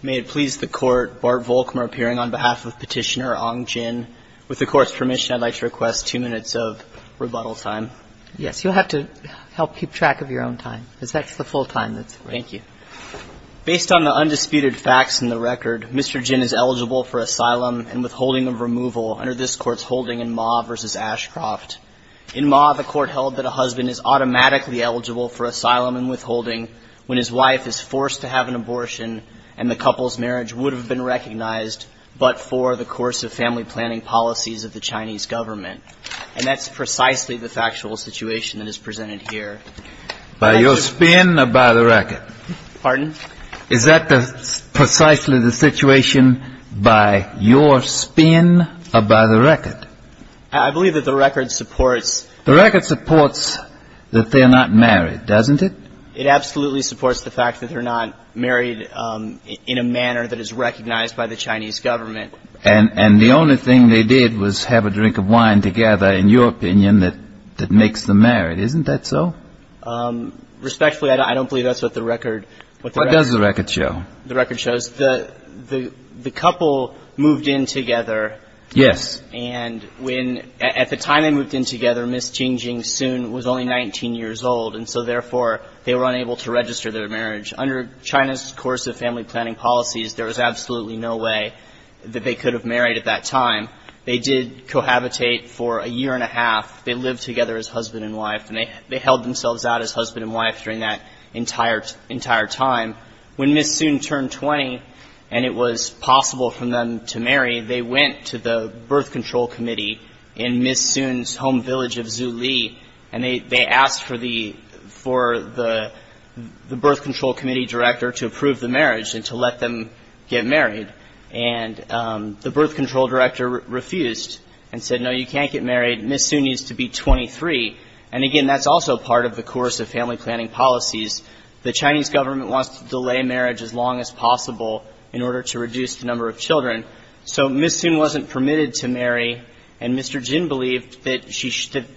May it please the Court, Bart Volkmar appearing on behalf of Petitioner Ong Jin. With the Court's permission, I'd like to request two minutes of rebuttal time. Yes, you'll have to help keep track of your own time, because that's the full time that's available. Thank you. Based on the undisputed facts in the record, Mr. Jin is eligible for asylum and withholding of removal under this Court's holding in Ma versus Ashcroft. In Ma, the Court held that a husband is automatically eligible for asylum and withholding when his wife is forced to have an abortion and the couple's marriage would have been recognized but for the course of family planning policies of the Chinese government. And that's precisely the factual situation that is presented here. By your spin or by the record? Pardon? Is that precisely the situation by your spin or by the record? I believe that the record supports... The record supports that they're not married, doesn't it? It absolutely supports the fact that they're not married in a manner that is recognized by the Chinese government. And the only thing they did was have a drink of wine together, in your opinion, that makes them married. Isn't that so? Respectfully, I don't believe that's what the record... What does the record show? The record shows the couple moved in together. Yes. And when... At the time they moved in together, Ms. Jingjing Sun was only 19 years old and so therefore they were unable to register their marriage. Under China's course of family planning policies, there was absolutely no way that they could have married at that time. They did cohabitate for a year and a half. They lived together as husband and wife and they held themselves out as husband and wife during that entire time. When Ms. Sun turned 20 and it was possible for them to marry, they went to the birth control committee in Ms. Sun's home village of Zhu Li and they asked for the birth control committee director to approve the marriage and to let them get married. And the birth control director refused and said, no, you can't get married, Ms. Sun needs to be 23. And again, that's also part of the course of family planning policies. The Chinese government wants to delay marriage as long as possible in order to reduce the number of children. So Ms. Sun wasn't permitted to marry and Mr. Jing believed that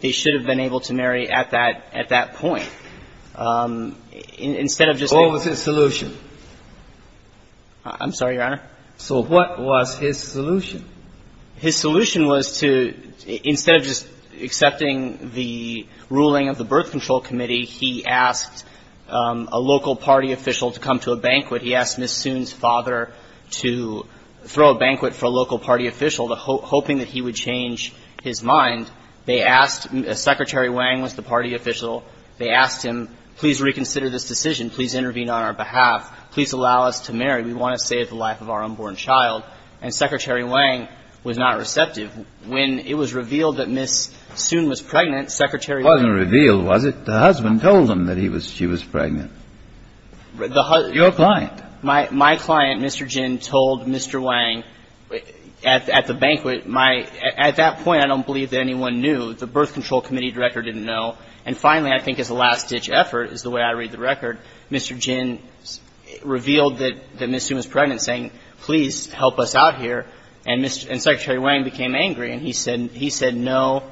they should have been able to marry at that point. Instead of just... What was his solution? I'm sorry, Your Honor? So what was his solution? His solution was to, instead of just accepting the ruling of the birth control committee, he asked a local party official to come to a banquet. He asked Ms. Sun's father to throw a banquet for a local party official, hoping that he would change his mind. They asked, Secretary Wang was the party official. They asked him, please reconsider this decision. Please intervene on our behalf. Please allow us to marry. We want to save the life of our unborn child. And Secretary Wang was not receptive. When it was revealed that Ms. Sun was pregnant, Secretary Wang... Someone told him that she was pregnant, your client. My client, Mr. Jing, told Mr. Wang at the banquet, at that point, I don't believe that anyone knew. The birth control committee director didn't know. And finally, I think as a last-ditch effort, is the way I read the record, Mr. Jing revealed that Ms. Sun was pregnant, saying, please help us out here. And Secretary Wang became angry and he said, no,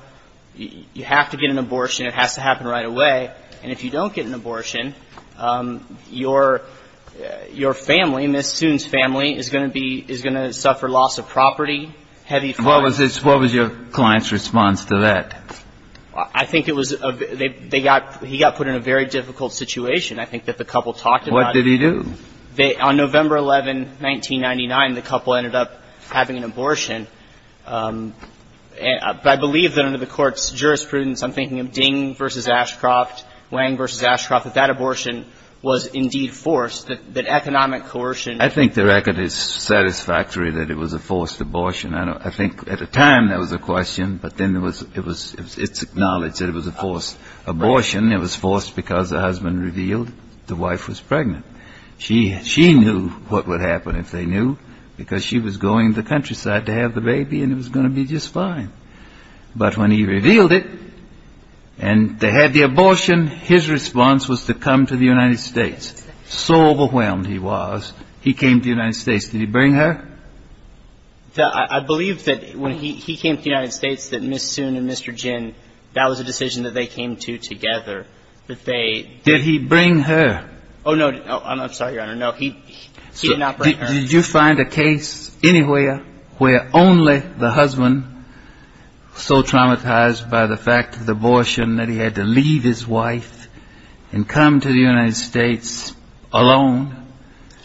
you have to get an abortion. It has to happen right away. And if you don't get an abortion, your family, Ms. Sun's family, is going to be, is going to suffer loss of property, heavy fines. What was your client's response to that? I think it was, he got put in a very difficult situation, I think, that the couple talked about. What did he do? On November 11, 1999, the couple ended up having an abortion. I believe that under the court's jurisprudence, I'm thinking of Ding v. Ashcroft, Wang v. Ashcroft, that that abortion was indeed forced, that economic coercion. I think the record is satisfactory that it was a forced abortion. I think at the time that was a question, but then it was, it's acknowledged that it was a forced abortion. It was forced because the husband revealed the wife was pregnant. She knew what would happen if they knew, because she was going to the countryside to have the baby and it was going to be just fine. But when he revealed it, and they had the abortion, his response was to come to the United States. So overwhelmed he was, he came to the United States. Did he bring her? I believe that when he came to the United States, that Ms. Sun and Mr. Jin, that was a decision that they came to together, that they... Did he bring her? Oh, no. I'm sorry, Your Honor. No. He did not bring her. Did you find a case anywhere where only the husband, so traumatized by the fact of the abortion that he had to leave his wife and come to the United States alone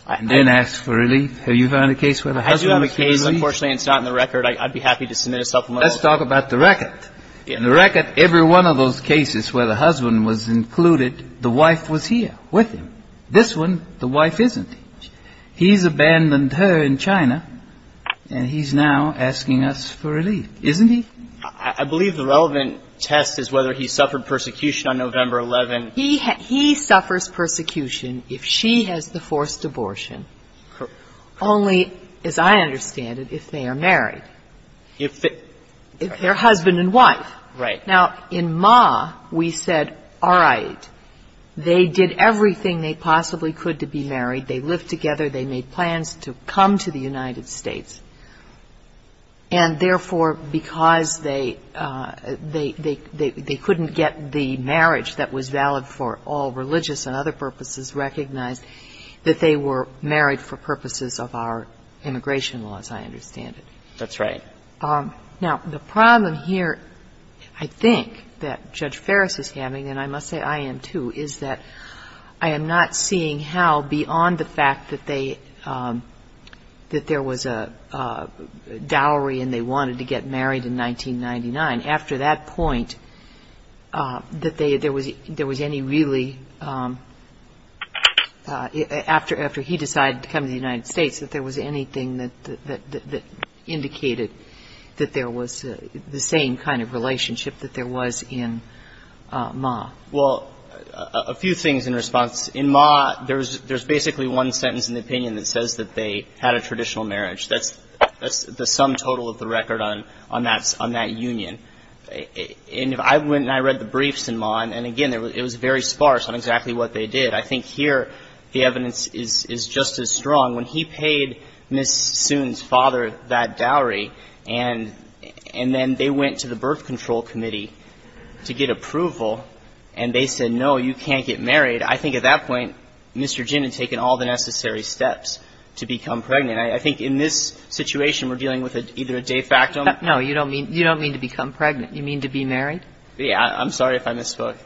and then ask for relief? Have you found a case where the husband was relieved? I do have a case. Unfortunately, it's not in the record. I'd be happy to submit a supplemental. Let's talk about the record. In the record, every one of those cases where the husband was included, the wife was here with him. This one, the wife isn't. He's abandoned her in China, and he's now asking us for relief. Isn't he? I believe the relevant test is whether he suffered persecution on November 11. He suffers persecution if she has the forced abortion, only, as I understand it, if they are married, if they're husband and wife. Right. Now, in Ma, we said, all right, they did everything they possibly could to be married. They lived together. They made plans to come to the United States. And therefore, because they couldn't get the marriage that was valid for all religious and other purposes recognized, that they were married for purposes of our immigration laws, I understand it. That's right. Now, the problem here, I think, that Judge Ferris is having, and I must say I am, too, is that I am not seeing how, beyond the fact that there was a dowry and they wanted to get married in 1999, after that point, that there was any really, after he decided to go to the United States, that there was anything that indicated that there was the same kind of relationship that there was in Ma. Well, a few things in response. In Ma, there's basically one sentence in the opinion that says that they had a traditional marriage. That's the sum total of the record on that union. And I went and I read the briefs in Ma, and again, it was very sparse on exactly what they did. I think here, the evidence is just as strong. When he paid Ms. Soon's father that dowry, and then they went to the birth control committee to get approval, and they said, no, you can't get married, I think at that point, Mr. Ginn had taken all the necessary steps to become pregnant. I think in this situation, we're dealing with either a de facto or a no. You don't mean to become pregnant. You mean to be married? Yeah. I'm sorry if I misspoke.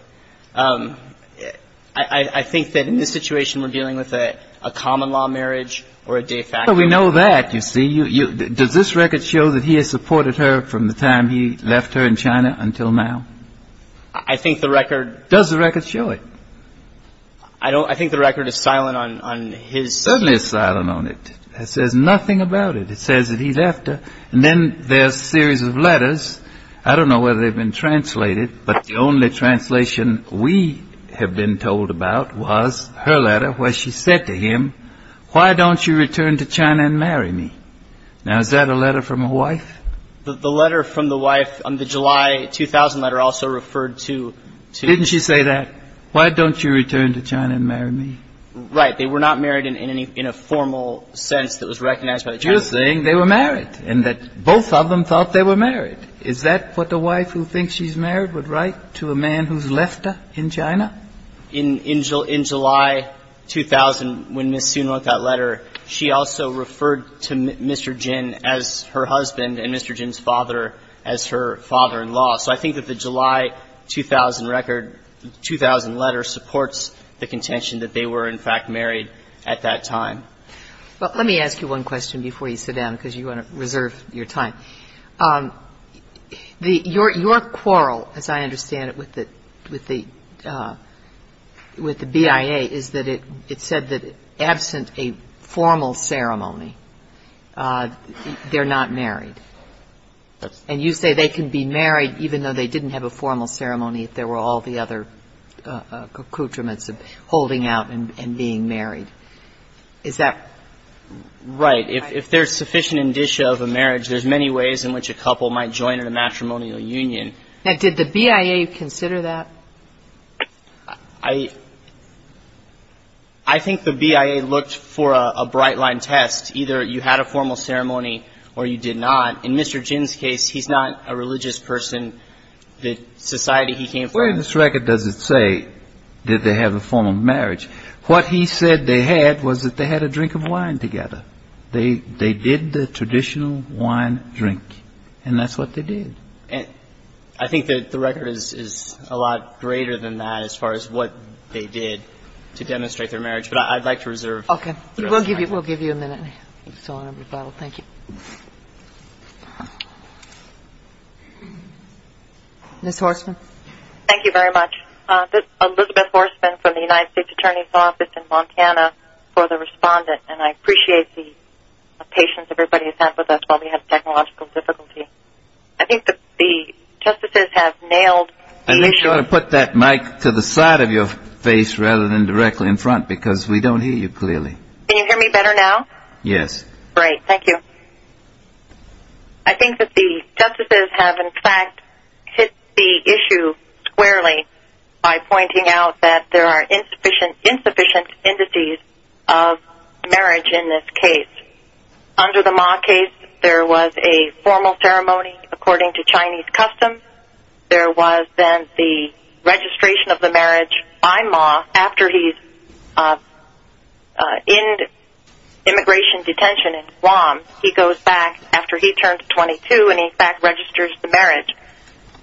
I think that in this situation, we're dealing with a common law marriage or a de facto. Well, we know that, you see. Does this record show that he has supported her from the time he left her in China until now? I think the record... Does the record show it? I don't... I think the record is silent on his... It certainly is silent on it. It says nothing about it. It says that he left her. And then there's a series of letters. I don't know whether they've been translated, but the only translation we have been told about was her letter where she said to him, why don't you return to China and marry me? Now, is that a letter from a wife? The letter from the wife on the July 2000 letter also referred to... Didn't she say that? Why don't you return to China and marry me? Right. They were not married in a formal sense that was recognized by the Chinese. They were saying they were married and that both of them thought they were married. Is that what a wife who thinks she's married would write to a man who's left her in China? In July 2000, when Ms. Sun wrote that letter, she also referred to Mr. Jin as her husband and Mr. Jin's father as her father-in-law. So I think that the July 2000 record, 2000 letter supports the contention that they were in fact married at that time. Well, let me ask you one question before you sit down, because you want to reserve your time. Your quarrel, as I understand it, with the BIA is that it said that absent a formal ceremony, they're not married. And you say they can be married even though they didn't have a formal ceremony if there were all the other accoutrements of holding out and being married. Is that right? If there's sufficient indicia of a marriage, there's many ways in which a couple might join in a matrimonial union. Now, did the BIA consider that? I think the BIA looked for a bright line test. Either you had a formal ceremony or you did not. In Mr. Jin's case, he's not a religious person. The society he came from. Where in this record does it say that they have a formal marriage? What he said they had was that they had a drink of wine together. They did the traditional wine drink. And that's what they did. I think that the record is a lot greater than that as far as what they did to demonstrate their marriage. But I'd like to reserve. OK. We'll give you a minute. Thank you. Ms. Horstman. Thank you very much. Elizabeth Horstman from the United States Attorney's Office in Montana for the respondent. And I appreciate the patience everybody has had with us while we have technological difficulty. I think that the justices have nailed. I think you ought to put that mic to the side of your face rather than directly in front because we don't hear you clearly. Can you hear me better now? Yes. Great. Thank you. I think that the justices have in fact hit the issue squarely. By pointing out that there are insufficient indices of marriage in this case. Under the Ma case, there was a formal ceremony according to Chinese customs. There was then the registration of the marriage by Ma after he's in immigration detention in Guam. He goes back after he turned 22 and in fact registers the marriage.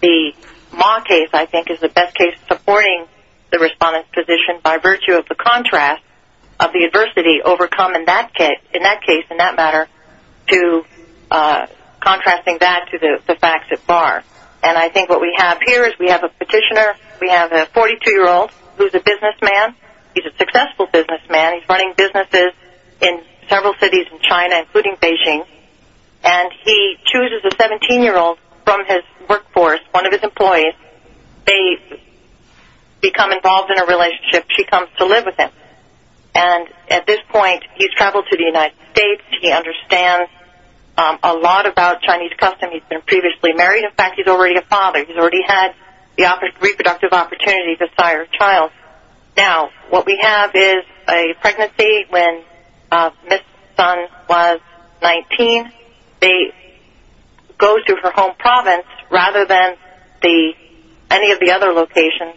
The Ma case I think is the best case supporting the respondent's position by virtue of the contrast of the adversity overcome in that case in that matter to contrasting that to the facts at bar. And I think what we have here is we have a petitioner. We have a 42 year old who's a businessman. He's a successful businessman. He's running businesses in several cities in China including Beijing. And he chooses a 17 year old from his workforce, one of his employees. They become involved in a relationship. She comes to live with him. And at this point, he's traveled to the United States. He understands a lot about Chinese custom. He's been previously married. In fact, he's already a father. He's already had the reproductive opportunity to sire a child. Now, what we have is a pregnancy when Ms. Sun was 19. They go to her home province rather than any of the other locations.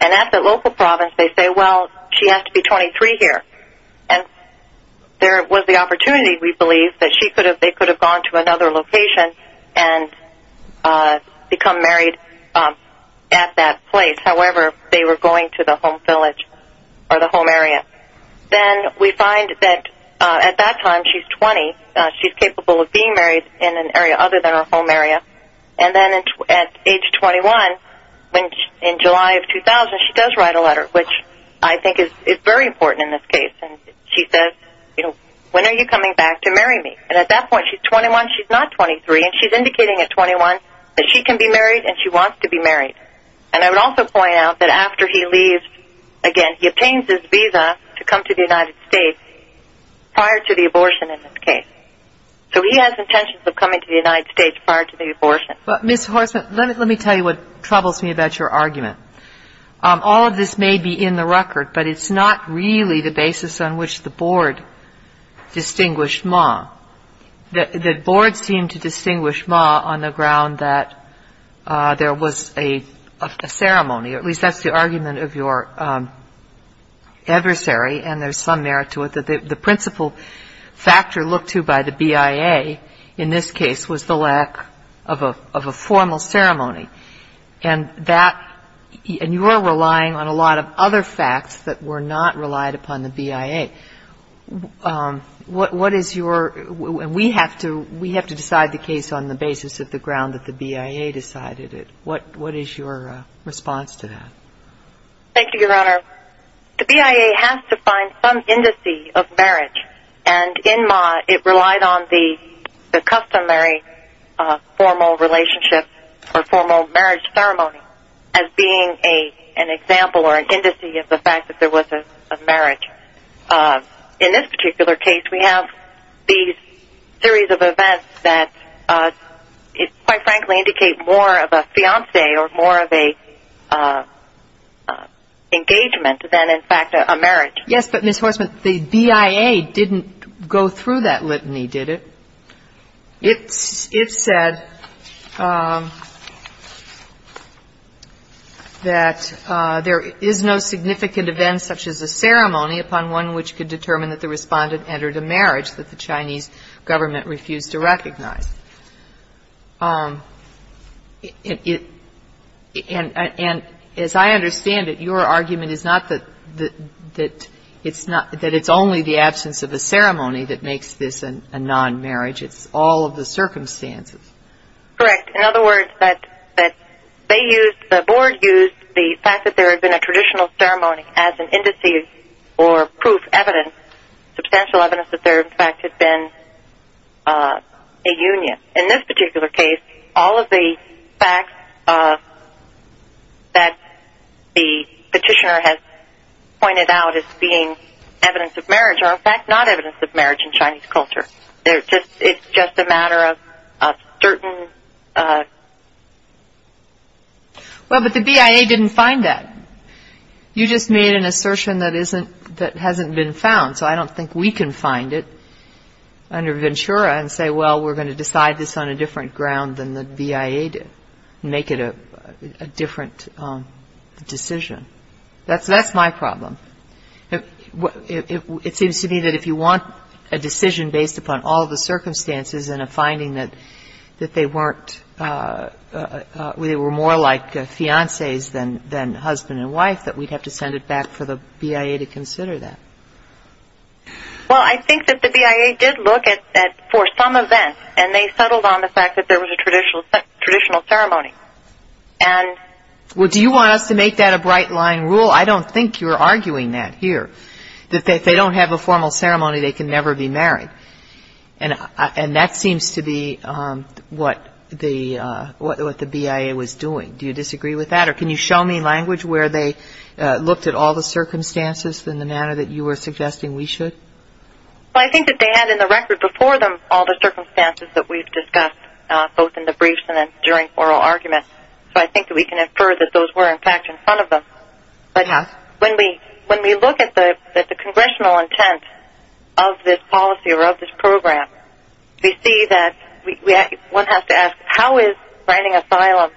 And at the local province, they say, well, she has to be 23 here. And there was the opportunity, we believe, that she could have, they could have gone to another location and become married at that place. However, they were going to the home village or the home area. Then we find that at that time, she's 20. She's capable of being married in an area other than her home area. And then at age 21, in July of 2000, she does write a letter which I think is very important in this case. And she says, you know, when are you coming back to marry me? And at that point, she's 21. She's not 23. And I would also point out that after he leaves, again, he obtains his visa to come to the United States prior to the abortion in this case. So he has intentions of coming to the United States prior to the abortion. But Ms. Horstman, let me tell you what troubles me about your argument. All of this may be in the record, but it's not really the basis on which the board distinguished Ma. The board seemed to distinguish Ma on the ground that there was a ceremony, or at least that's the argument of your adversary. And there's some merit to it that the principal factor looked to by the BIA in this case was the lack of a formal ceremony. And that, and you are relying on a lot of other facts that were not relied upon the BIA. What is your, and we have to decide the case on the basis of the ground that the BIA decided it. What is your response to that? Thank you, Your Honor. The BIA has to find some indice of marriage. And in Ma, it relied on the customary formal relationship or formal marriage ceremony as being an example or an indice of the fact that there was a marriage. In this particular case, we have these series of events that quite frankly indicate more of a fiance or more of a engagement than in fact a marriage. Yes, but Ms. Horstman, the BIA didn't go through that litany, did it? It said that there is no significant event such as a ceremony upon one which could determine that the respondent entered a marriage that the Chinese government refused to recognize. And as I understand it, your argument is not that it's only the absence of a ceremony that makes this a non-marriage. It's all of the circumstances. Correct. In other words, that they used, the board used the fact that there had been a traditional ceremony as an indice or proof, evidence, substantial evidence that there in fact had been a union. In this particular case, all of the facts that the petitioner has pointed out as being evidence of marriage are in fact not evidence of marriage in Chinese culture. It's just a matter of certain. Well, but the BIA didn't find that. You just made an assertion that hasn't been found. So I don't think we can find it under Ventura and say, well, we're going to decide this on a different ground than the BIA did, make it a different decision. That's my problem. It seems to me that if you want a decision based upon all the circumstances and a finding that they weren't, they were more like fiancés than husband and wife, that we'd have to send it back for the BIA to consider that. Well, I think that the BIA did look at, for some event, and they settled on the fact that there was a traditional ceremony. And... Well, do you want us to make that a bright line rule? I don't think you're arguing that here, that if they don't have a formal ceremony, they can never be married. And that seems to be what the BIA was doing. Do you disagree with that? Or can you show me language where they looked at all the circumstances in the manner that you were suggesting we should? Well, I think that they had in the record before them all the circumstances that we've discussed, both in the briefs and then during oral arguments. So I think that we can infer that those were, in fact, in front of them. But when we look at the congressional intent of this policy or of this program, we see that one has to ask, how is granting asylum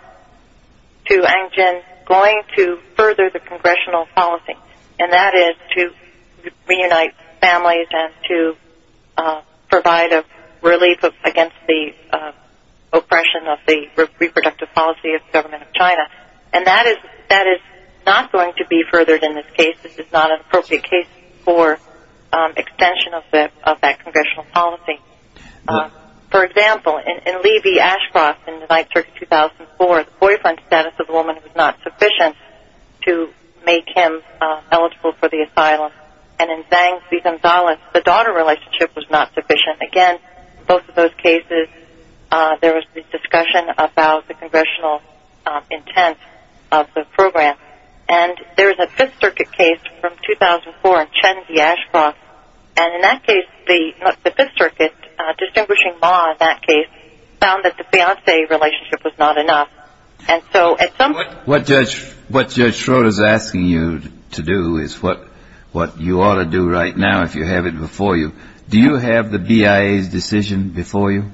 to Ang Jin going to further the congressional policy? And that is to reunite families and to provide a relief against the oppression and that is not going to be furthered in this case. This is not an appropriate case for extension of that congressional policy. For example, in Lee v. Ashcroft in the 9th Circuit 2004, the boyfriend status of the woman was not sufficient to make him eligible for the asylum. And in Zhang v. Gonzalez, the daughter relationship was not sufficient. Again, both of those cases, there was this discussion about the congressional intent of the program. And there is a 5th Circuit case from 2004 in Chen v. Ashcroft. And in that case, the 5th Circuit, distinguishing law in that case, found that the fiancé relationship was not enough. And so at some point... What Judge Schroeder is asking you to do is what you ought to do right now if you have it before you. Do you have the BIA's decision before you?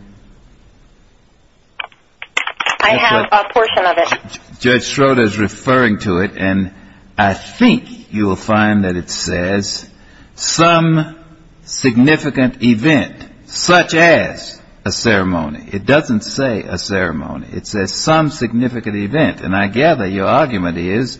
I have a portion of it. Judge Schroeder is referring to it and I think you will find that it says some significant event, such as a ceremony. It doesn't say a ceremony. It says some significant event. And I gather your argument is,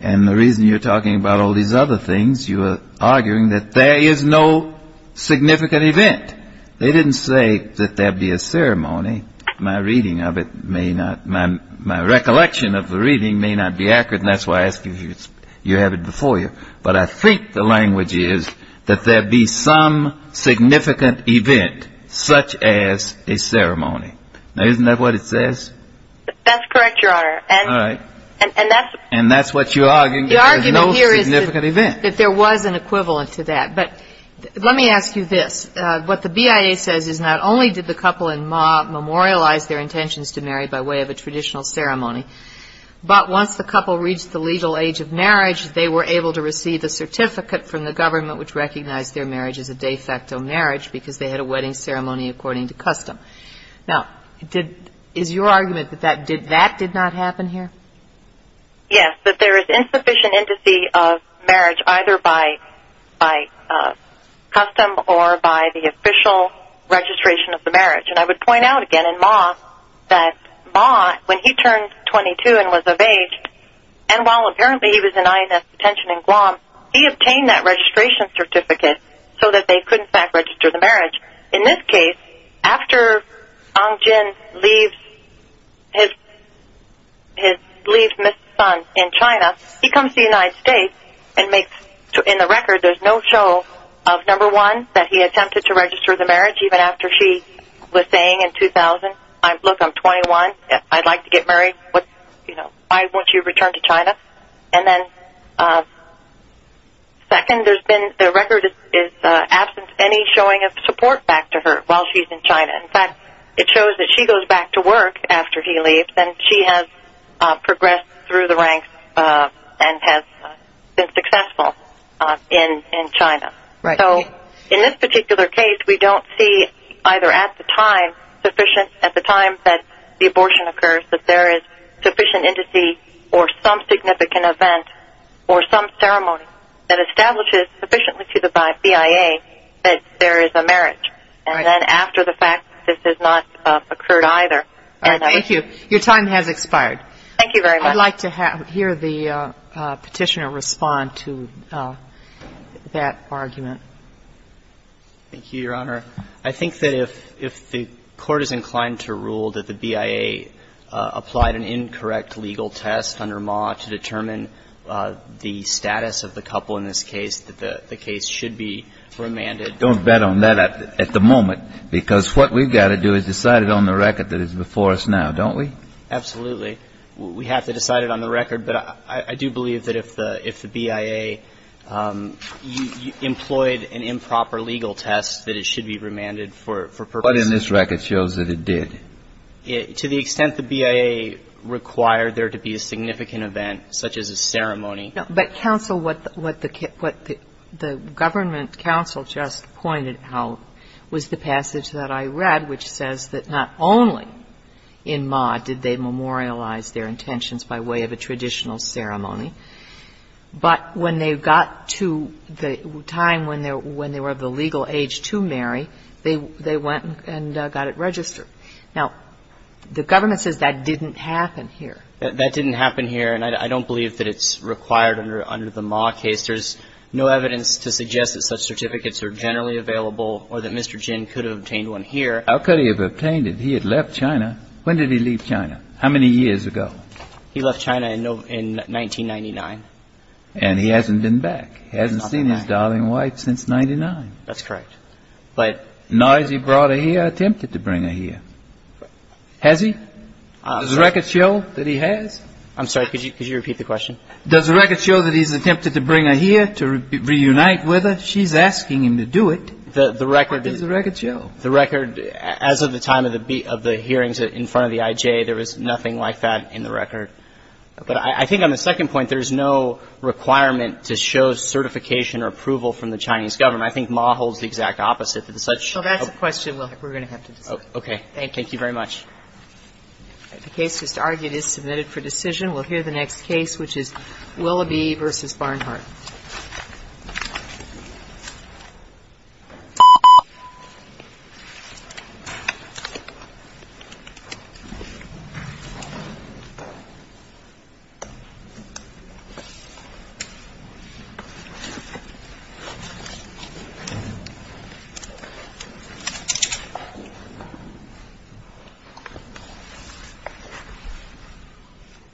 and the reason you're talking about all these other things, you are arguing that there is no significant event. They didn't say that there'd be a ceremony. My reading of it may not, my recollection of the reading may not be accurate and that's why I ask you if you have it before you. But I think the language is that there'd be some significant event such as a ceremony. Now isn't that what it says? That's correct, Your Honor. All right. And that's... And that's what you're arguing. The argument here is that there is no significant event. There was an equivalent to that. But let me ask you this. What the BIA says is not only did the couple in Maugh memorialize their intentions to marry by way of a traditional ceremony, but once the couple reached the legal age of marriage, they were able to receive a certificate from the government which recognized their marriage as a de facto marriage because they had a wedding ceremony according to custom. Now is your argument that that did not happen here? Yes, that there is insufficient indice of marriage either by custom or by the official registration of the marriage. And I would point out again in Maugh that Maugh, when he turned 22 and was of age and while apparently he was in INS detention in Guam, he obtained that registration certificate In this case, after Aung San Suu Kyi leaves his son in China, he comes to the United States and in the record there's no show of number one, that he attempted to register the marriage even after she was saying in 2000, look, I'm 21, I'd like to get married. And then second, there's been, the record is absence any showing of support back to her while she's in China. In fact, it shows that she goes back to work after he leaves and she has progressed through the ranks and has been successful in China. So in this particular case, we don't see either at the time sufficient, at the time that the abortion occurs, that there is sufficient indice or some significant event or some ceremony that establishes sufficiently to the BIA that there is a marriage. And then after the fact, this has not occurred either. Thank you. Your time has expired. Thank you very much. I'd like to hear the petitioner respond to that argument. Thank you, Your Honor. I think that if the court is inclined to rule that the BIA applied an incorrect legal test under Ma to determine the status of the couple in this case, that the case should be remanded. Don't bet on that at the moment, because what we've got to do is decide it on the record that is before us now, don't we? Absolutely. We have to decide it on the record. But I do believe that if the BIA employed an improper legal test that it should be remanded for purposes of this record shows that it did. To the extent the BIA required there to be a significant event, such as a ceremony. But counsel, what the government counsel just pointed out was the passage that I read, which says that not only in Ma did they memorialize their intentions by way of a traditional ceremony, but they also said that if the BIA was to marry, they went and got it registered. Now, the government says that didn't happen here. That didn't happen here. And I don't believe that it's required under the Ma case. There's no evidence to suggest that such certificates are generally available or that Mr. Jin could have obtained one here. How could he have obtained it? He had left China. When did he leave China? How many years ago? He left China in 1999. And he hasn't been back. He hasn't seen his darling wife since 99. That's correct. But... Now has he brought her here or attempted to bring her here? Has he? Does the record show that he has? I'm sorry, could you repeat the question? Does the record show that he's attempted to bring her here to reunite with her? She's asking him to do it. The record... What does the record show? The record, as of the time of the hearings in front of the IJ, there was nothing like that in the record. But I think on the second point, there's no requirement to show certification or approval from the Chinese government. I think Ma holds the exact opposite. It's such... Well, that's a question we're going to have to discuss. Okay. Thank you very much. The case just argued is submitted for decision. We'll hear the next case, which is Willoughby v. Barnhart. Thank you.